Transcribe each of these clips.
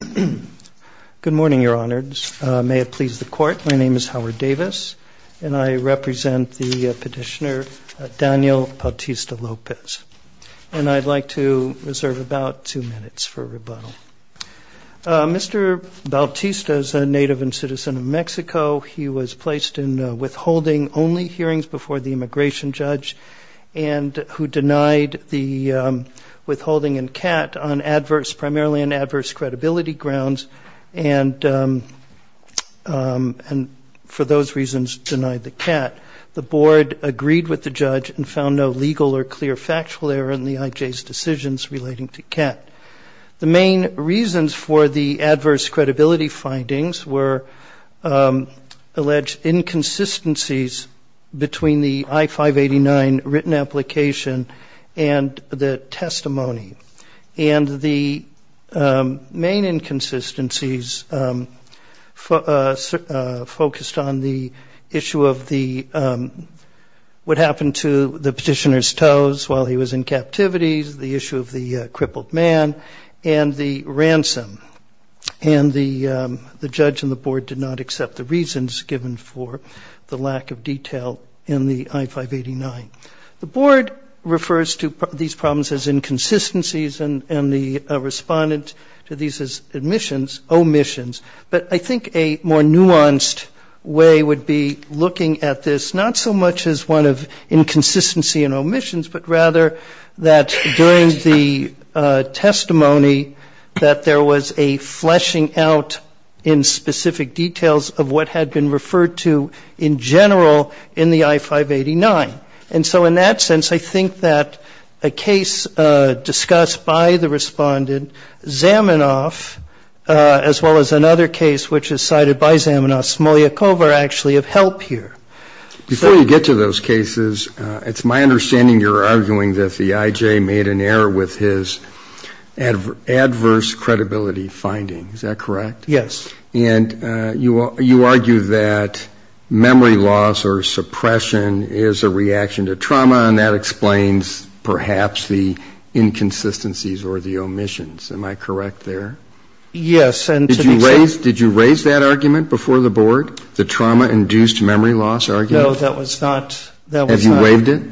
Good morning, Your Honors. May it please the Court, my name is Howard Davis, and I represent the petitioner Daniel Bautista-Lopez. And I'd like to reserve about two minutes for rebuttal. Mr. Bautista is a native and citizen of Mexico. He was placed in withholding only hearings before the immigration judge, and who denied the withholding in CAT on adverse, primarily on adverse credibility grounds, and for those reasons denied the CAT. The board agreed with the judge and found no legal or clear factual error in the IJ's decisions relating to CAT. The main reasons for the adverse credibility findings were alleged inconsistencies between the I-589 written application and the testimony. And the main inconsistencies focused on the issue of what happened to the petitioner's toes while he was in captivity, the issue of the crippled man, and the ransom. And the judge and the board did not accept the reasons given for the lack of detail in the I-589. The board refers to these problems as inconsistencies, and the respondent to these as omissions. But I think a more nuanced way would be looking at this not so much as one of inconsistency and omissions, but rather that during the testimony that there was a fleshing out in specific details of what had been referred to in general in the I-589. And so in that sense, I think that a case discussed by the respondent, Zaminoff, as well as another case which is cited by Zaminoff, Smoliakov are actually of help here. Before you get to those cases, it's my understanding you're arguing that the IJ made an error with his adverse credibility findings. Is that correct? Yes. And you argue that memory loss or suppression is a reaction to trauma, and that explains perhaps the inconsistencies or the omissions. Am I correct there? Yes. Did you raise that argument before the board, the trauma-induced memory loss argument? No, that was not. Have you waived it?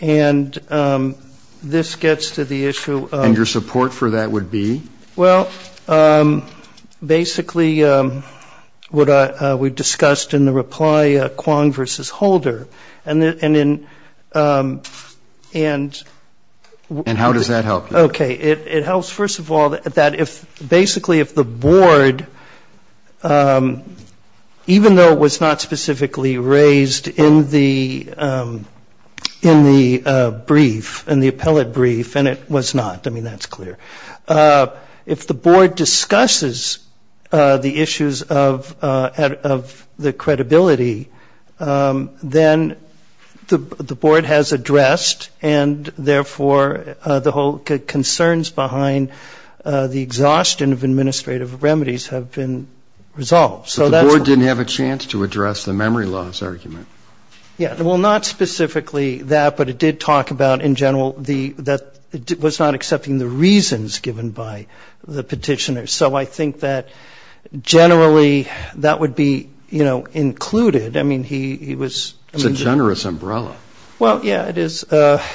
And this gets to the issue of ‑‑ And your support for that would be? Well, basically what we discussed in the reply, Kwong v. Holder, and in ‑‑ And how does that help you? Okay. It helps, first of all, that if basically if the board, even though it was not specifically raised in the brief, in the appellate brief, and it was not. I mean, that's clear. If the board discusses the issues of the credibility, then the board has addressed, and therefore the whole concerns behind the exhaustion of administrative remedies have been resolved. So the board didn't have a chance to address the memory loss argument? Yeah. Well, not specifically that, but it did talk about in general that it was not accepting the reasons given by the petitioner. So I think that generally that would be, you know, included. I mean, he was. It's a generous umbrella. Well, yeah, it is. But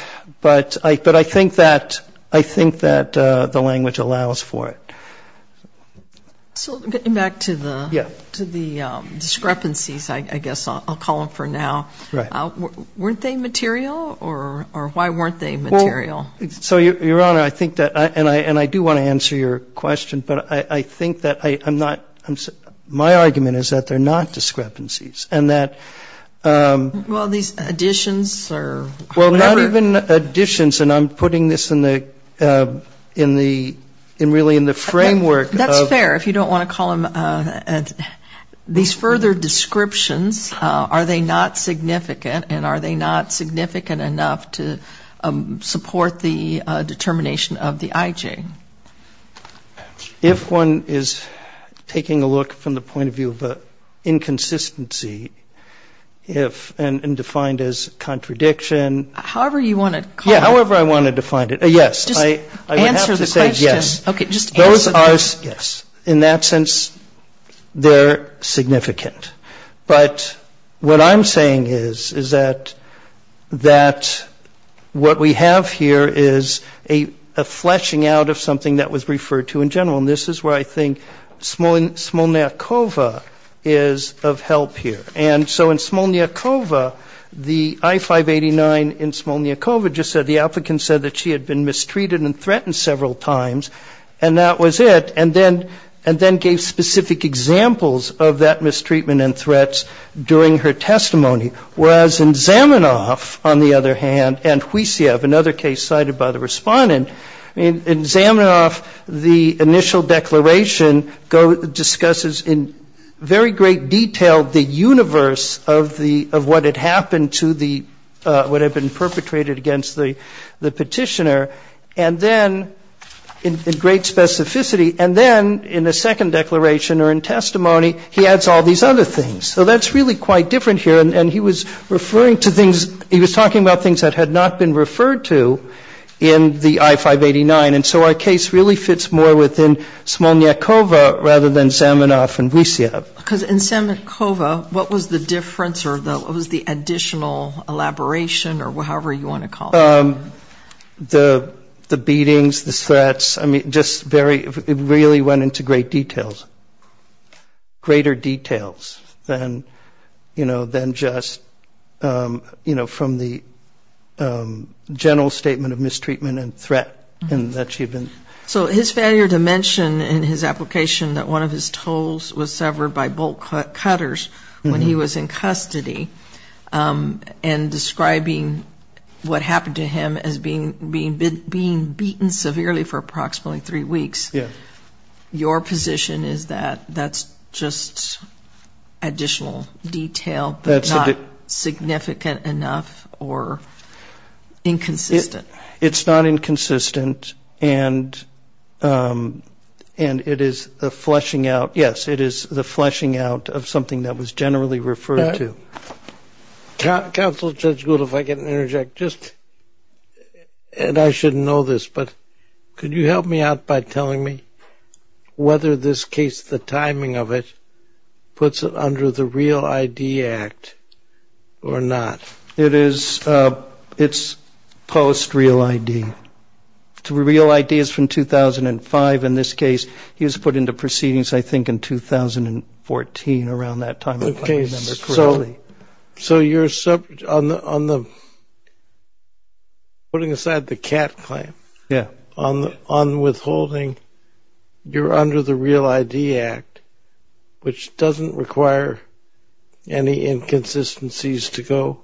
I think that the language allows for it. So getting back to the discrepancies, I guess I'll call them for now. Right. Weren't they material, or why weren't they material? So, Your Honor, I think that, and I do want to answer your question, but I think that I'm not, my argument is that they're not discrepancies, and that. Well, these additions or whatever. Well, not even additions, and I'm putting this in the, really in the framework of. That's fair, if you don't want to call them. These further descriptions, are they not significant, and are they not significant enough to support the determination of the IJ? If one is taking a look from the point of view of an inconsistency, if, and defined as contradiction. However you want to call it. Yeah, however I want to define it. Yes. Just answer the question. I would have to say yes. Okay, just answer the question. Those are, yes. In that sense, they're significant. But what I'm saying is, is that, that what we have here is a fleshing out of something that was referred to in general, and this is where I think Smolniakova is of help here. And so in Smolniakova, the I-589 in Smolniakova just said, the applicant said that she had been mistreated and threatened several times, and that was it. And then gave specific examples of that mistreatment and threats during her testimony. Whereas in Zamenhof, on the other hand, and Huisev, another case cited by the respondent, in Zamenhof, the initial declaration discusses in very great detail the universe of the, of what had happened to the, what had been perpetrated against the petitioner. And then, in great specificity, and then in the second declaration or in testimony, he adds all these other things. So that's really quite different here, and he was referring to things, he was talking about things that had not been referred to in the I-589. And so our case really fits more within Smolniakova rather than Zamenhof and Huisev. Because in Smolniakova, what was the difference or what was the additional elaboration or however you want to call it? The beatings, the threats, I mean, just very, it really went into great details. Greater details than, you know, than just, you know, from the general statement of mistreatment and threat that she had been. So his failure to mention in his application that one of his toes was severed by bolt cutters when he was in custody and describing what happened to him as being beaten severely for approximately three weeks, your position is that that's just additional detail, but not significant enough or inconsistent? It's not inconsistent, and it is the fleshing out, yes, it is the fleshing out of something that was generally referred to. Counsel, Judge Gould, if I can interject, just, and I should know this, but could you help me out by telling me whether this case, the timing of it, puts it under the Real ID Act or not? It is, it's post Real ID. Real ID is from 2005. In this case, he was put into proceedings, I think, in 2014, around that time, if I remember correctly. So you're, on the, putting aside the cat claim, on withholding, you're under the Real ID Act, which doesn't require any inconsistencies to go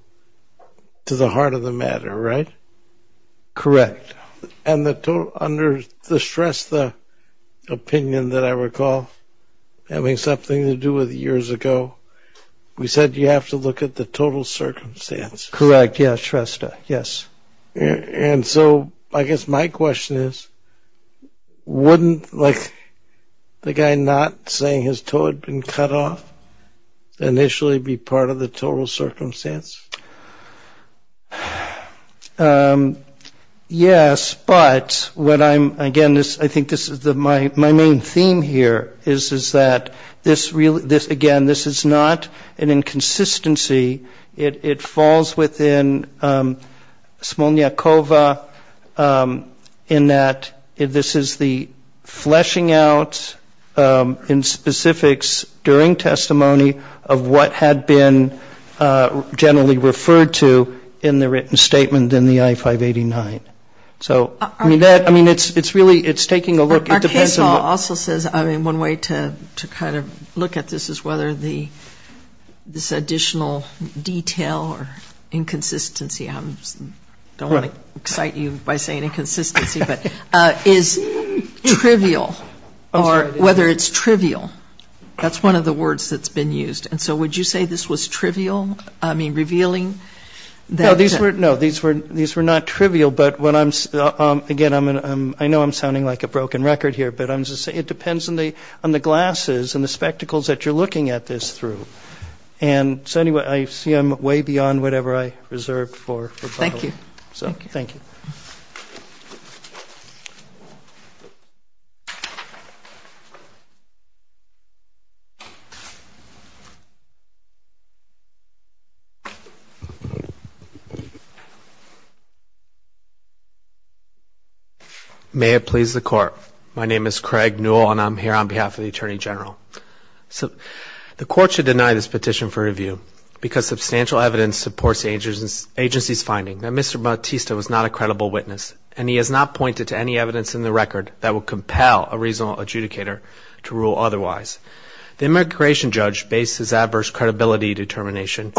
to the heart of the matter, right? Correct. And the, under the Shrestha opinion that I recall, having something to do with years ago, we said you have to look at the total circumstance. Correct, yes, Shrestha, yes. And so I guess my question is, wouldn't, like, the guy not saying his toe had been cut off, initially be part of the total circumstance? Yes, but what I'm, again, this, I think this is the, my main theme here is, is that this, again, this is not an inconsistency. It falls within Smolniakova in that this is the fleshing out in specifics during testimony of what had been generally referred to in the written statement in the I-589. So, I mean, that, I mean, it's really, it's taking a look. Our case law also says, I mean, one way to kind of look at this is whether the, this additional detail or inconsistency, I don't want to excite you by saying inconsistency, but is trivial or whether it's trivial. That's one of the words that's been used. And so would you say this was trivial, I mean, revealing that? No, these were not trivial, but when I'm, again, I'm going to, I know I'm sounding like a broken record here, but I'm just saying it depends on the glasses and the spectacles that you're looking at this through. And so anyway, I see I'm way beyond whatever I reserved for. Thank you. So, thank you. May it please the Court. My name is Craig Newell, and I'm here on behalf of the Attorney General. The Court should deny this petition for review because substantial evidence supports the agency's finding that Mr. Bautista was not a credible witness, and he has not pointed to any evidence in the record that would compel a reasonable adjudicator to rule otherwise. The immigration judge based his adverse credibility determination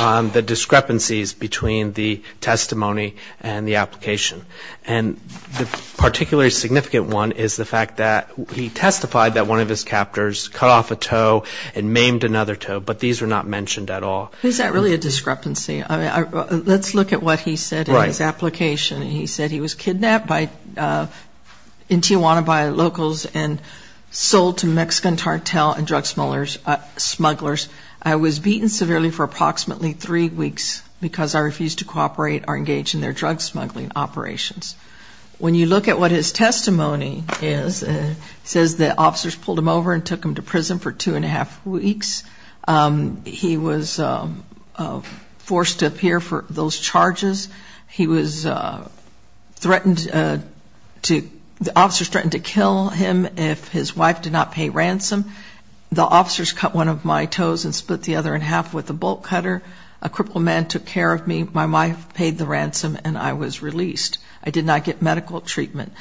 on the discrepancies between the testimony and the application. And the particularly significant one is the fact that he testified that one of his captors cut off a toe and maimed another toe, but these were not mentioned at all. Is that really a discrepancy? Let's look at what he said in his application. He said he was kidnapped in Tijuana by locals and sold to Mexican cartel and drug smugglers. I was beaten severely for approximately three weeks because I refused to cooperate or engage in their drug smuggling operations. When you look at what his testimony is, it says that officers pulled him over and took him to prison for two and a half weeks. He was forced to appear for those charges. He was threatened to, the officers threatened to kill him if his wife did not pay ransom. The officers cut one of my toes and split the other in half with a bolt cutter. A crippled man took care of me. My wife paid the ransom and I was released. I did not get medical treatment.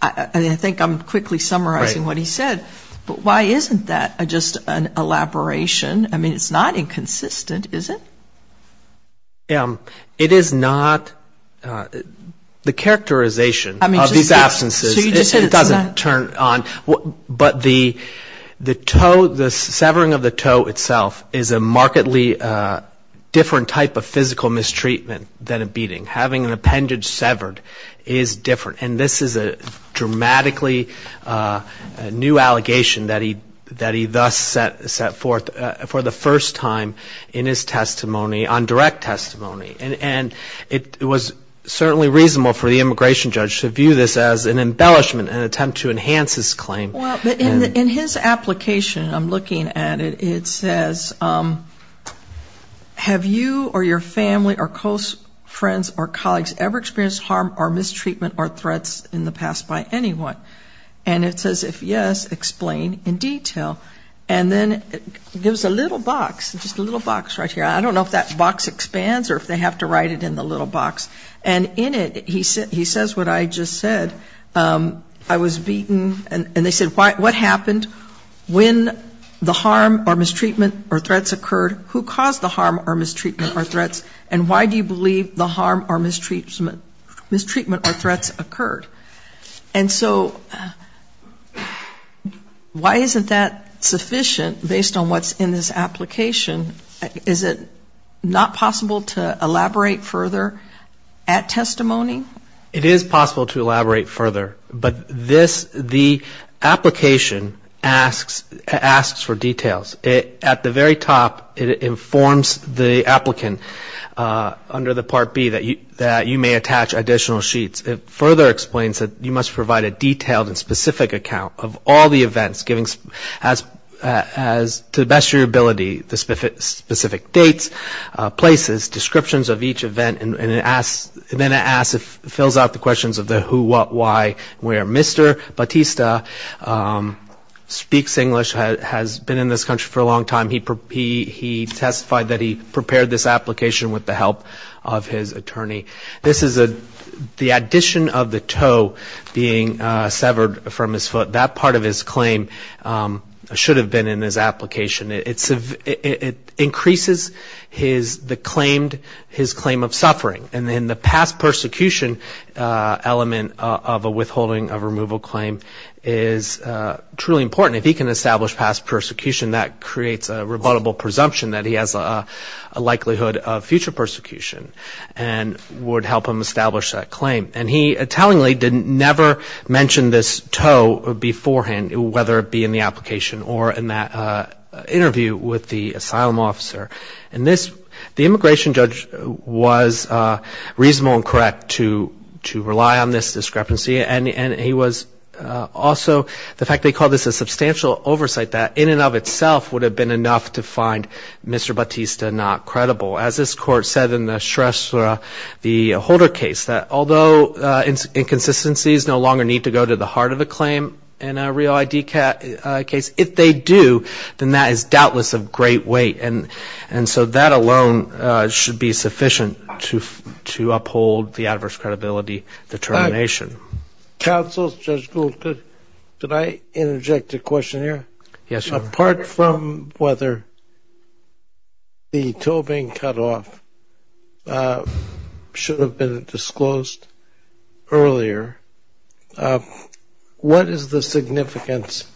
I think I'm quickly summarizing what he said. But why isn't that just an elaboration? I mean, it's not inconsistent, is it? It is not. The characterization of these absences doesn't turn on. But the severing of the toe itself is a markedly different type of physical mistreatment than a beating. Having an appendage severed is different. And this is a dramatically new allegation that he thus set forth for the first time in his testimony, on direct testimony. And it was certainly reasonable for the immigration judge to view this as an embellishment, an attempt to enhance his claim. Well, in his application, I'm looking at it, it says, have you or your family or close friends or colleagues ever experienced harm or mistreatment or threats in the past by anyone? And it says, if yes, explain in detail. And then it gives a little box, just a little box right here. I don't know if that box expands or if they have to write it in the little box. And in it, he says what I just said. I was beaten. And they said, what happened when the harm or mistreatment or threats occurred? Who caused the harm or mistreatment or threats? And why do you believe the harm or mistreatment or threats occurred? And so why isn't that sufficient based on what's in this application? Is it not possible to elaborate further at testimony? It is possible to elaborate further. But this, the application asks for details. At the very top, it informs the applicant under the Part B that you may attach additional sheets. It further explains that you must provide a detailed and specific account of all the events, to the best of your ability, the specific dates, places, descriptions of each event. And then it asks, it fills out the questions of the who, what, why, where Mr. Batista speaks English, has been in this country for a long time. He testified that he prepared this application with the help of his attorney. This is the addition of the toe being severed from his foot. That part of his claim should have been in his application. It increases his, the claimed, his claim of suffering. And then the past persecution element of a withholding of removal claim is truly important. If he can establish past persecution, that creates a rebuttable presumption that he has a likelihood of future persecution and would help him establish that claim. And he tellingly did never mention this toe beforehand, whether it be in the application or in that interview with the asylum officer. And this, the immigration judge was reasonable and correct to rely on this discrepancy. And he was also, the fact they called this a substantial oversight, that in and of itself would have been enough to find Mr. Batista not credible. As this court said in the stress, the Holder case, that although inconsistencies no longer need to go to the heart of the claim in a real ID case, if they do, then that is doubtless of great weight. And so that alone should be sufficient to uphold the adverse credibility determination. Counsel, Judge Gould, could I interject a question here? Yes, Your Honor. Apart from whether the toe being cut off should have been disclosed earlier, what is the significance,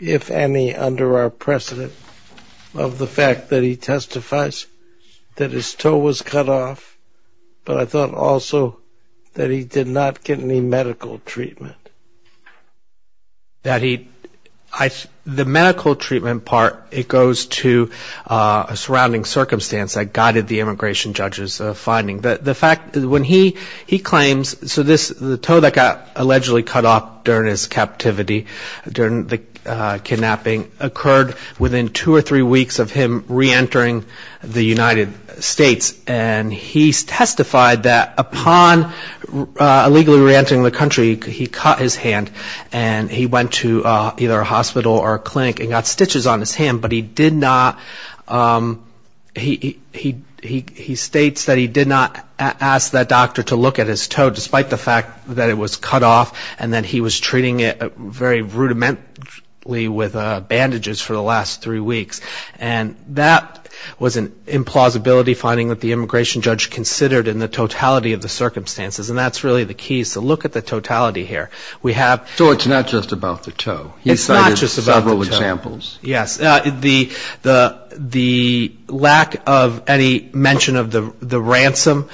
if any, under our precedent of the fact that he testifies that his toe was cut off, but I thought also that he did not get any medical treatment? That he, the medical treatment part, it goes to a surrounding circumstance that guided the immigration judge's finding. The fact, when he claims, so this, the toe that got allegedly cut off during his captivity, during the kidnapping, occurred within two or three weeks of him reentering the United States. And he testified that upon illegally reentering the country, he cut his hand and he went to either a hospital or a clinic and got stitches on his hand, but he did not, he states that he did not ask that doctor to look at his toe, despite the fact that it was cut off, and that he was treating it very rudimentarily with bandages for the last three weeks. And that was an implausibility finding that the immigration judge considered in the totality of the circumstances, and that's really the key. So look at the totality here. We have... So it's not just about the toe. It's not just about the toe. He cited several examples. Yes. The lack of any mention of the ransom,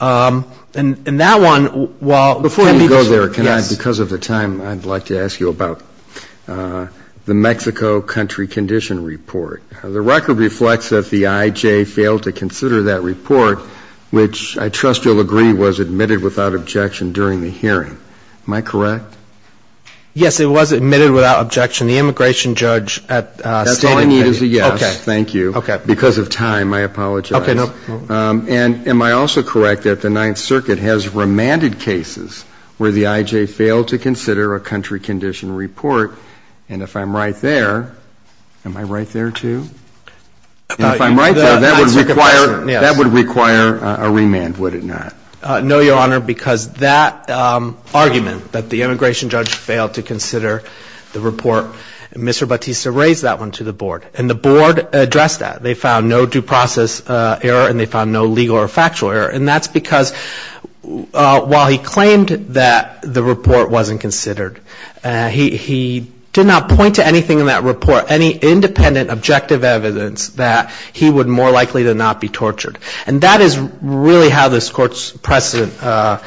and that one, while... Before you go there, can I, because of the time, I'd like to ask you about the Mexico country condition report. The record reflects that the I.J. failed to consider that report, which I trust you'll agree was admitted without objection during the hearing. Am I correct? Yes, it was admitted without objection. The immigration judge at... That's all I need is a yes. Okay. Thank you. Okay. Because of time, I apologize. Okay. And am I also correct that the Ninth Circuit has remanded cases where the I.J. failed to consider a country condition report? And if I'm right there, am I right there, too? If I'm right there, that would require a remand, would it not? No, Your Honor, because that argument that the immigration judge failed to consider the report, Mr. Bautista raised that one to the Board, and the Board addressed that. They found no due process error, and they found no legal or factual error. And that's because while he claimed that the report wasn't considered, he did not point to anything in that report, any independent, objective evidence that he would more likely to not be tortured. And that is really how this Court's precedent covers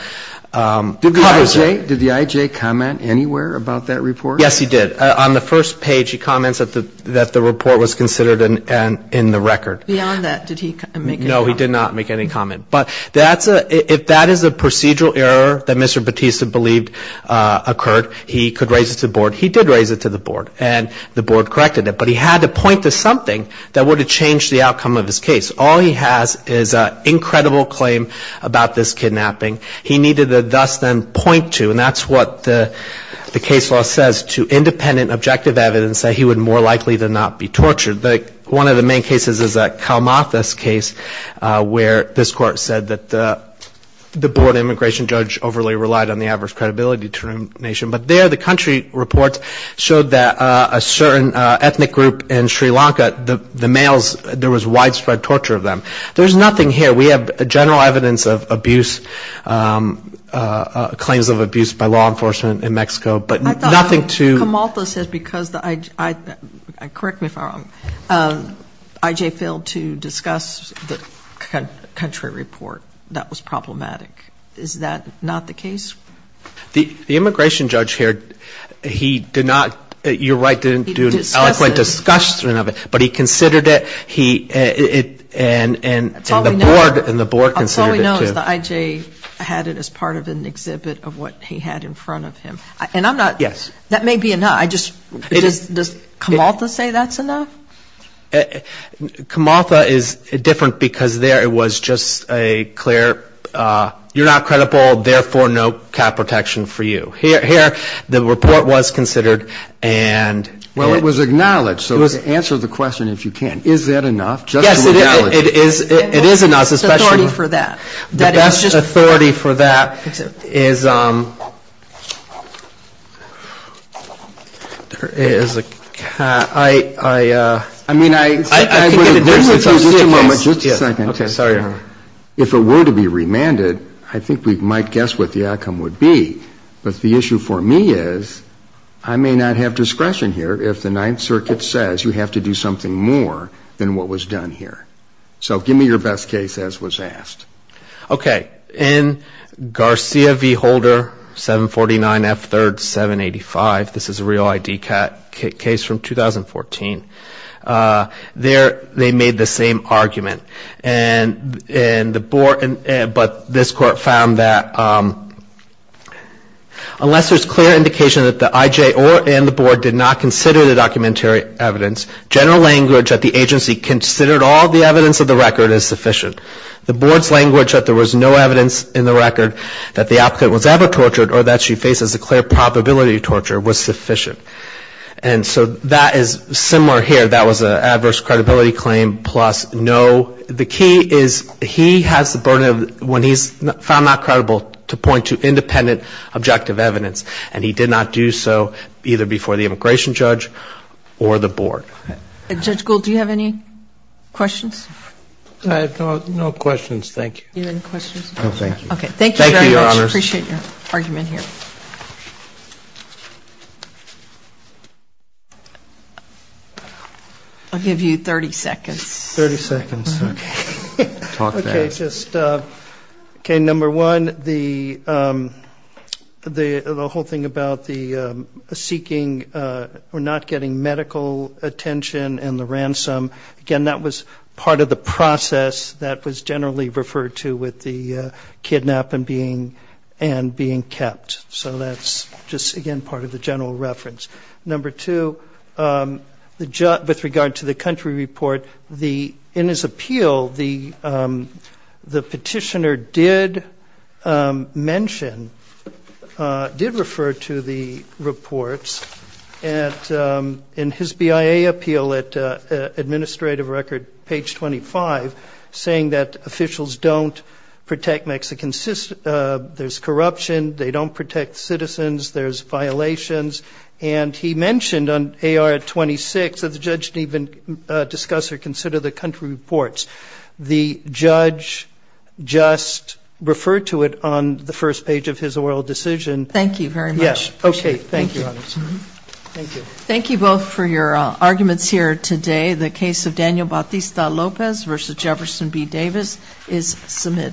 it. Did the I.J. comment anywhere about that report? Yes, he did. On the first page, he comments that the report was considered in the record. Beyond that, did he make any comment? No, he did not make any comment. But if that is a procedural error that Mr. Bautista believed occurred, he could raise it to the Board. He did raise it to the Board, and the Board corrected it. But he had to point to something that would have changed the outcome of his case. All he has is an incredible claim about this kidnapping. He needed to thus then point to, and that's what the case law says, to independent, objective evidence that he would more likely to not be tortured. One of the main cases is that Kalmathas case where this Court said that the Board immigration judge overly relied on the adverse credibility determination. But there, the country report showed that a certain ethnic group in Sri Lanka, the males, there was widespread torture of them. There's nothing here. We have general evidence of abuse, claims of abuse by law enforcement in Mexico, but nothing to I thought Kalmathas said because the, correct me if I'm wrong, IJ failed to discuss the country report. That was problematic. Is that not the case? The immigration judge here, he did not, you're right, didn't do an eloquent discussion of it. But he considered it, and the Board considered it too. All we know is that IJ had it as part of an exhibit of what he had in front of him. And I'm not, that may be enough. Does Kalmathas say that's enough? Kalmathas is different because there it was just a clear, you're not credible, therefore no cap protection for you. Here, the report was considered and Well, it was acknowledged. So answer the question if you can. Is that enough? Yes, it is. It is enough. Authority for that. The best authority for that is, I mean, I agree with you. Just a moment. Just a second. Sorry. If it were to be remanded, I think we might guess what the outcome would be. But the issue for me is, I may not have discretion here if the Ninth Circuit says you have to do something more than what was done here. So give me your best case as was asked. Okay. In Garcia v. Holder, 749 F. 3rd, 785, this is a real ID case from 2014. There they made the same argument. But this court found that unless there's clear indication that the IJ and the board did not consider the documentary evidence, general language that the agency considered all the evidence of the record is sufficient. The board's language that there was no evidence in the record that the applicant was ever tortured or that she faces a clear probability of torture was sufficient. And so that is similar here. That was an adverse credibility claim plus no. The key is he has the burden of when he's found not credible to point to independent objective evidence. And he did not do so either before the immigration judge or the board. Judge Gould, do you have any questions? I have no questions, thank you. Do you have any questions? Okay. Thank you very much. Thank you, Your Honor. I appreciate your argument here. I'll give you 30 seconds. 30 seconds. Okay. Talk fast. Okay, just, okay, number one, the whole thing about the seeking or not getting medical attention and the ransom, again, that was part of the process that was generally referred to with the kidnapping and being kept. So that's just, again, part of the general reference. Number two, with regard to the country report, in his appeal, the petitioner did mention, did refer to the reports. And in his BIA appeal at administrative record, page 25, saying that officials don't protect Mexican citizens, there's corruption, they don't protect citizens, there's violations. And he mentioned on AR-26 that the judge didn't even discuss or consider the country reports. The judge just referred to it on the first page of his oral decision. Thank you very much. Yes. Okay, thank you, Your Honor. Thank you. Thank you both for your arguments here today. The case of Daniel Bautista-Lopez v. Jefferson B. Davis is submitted.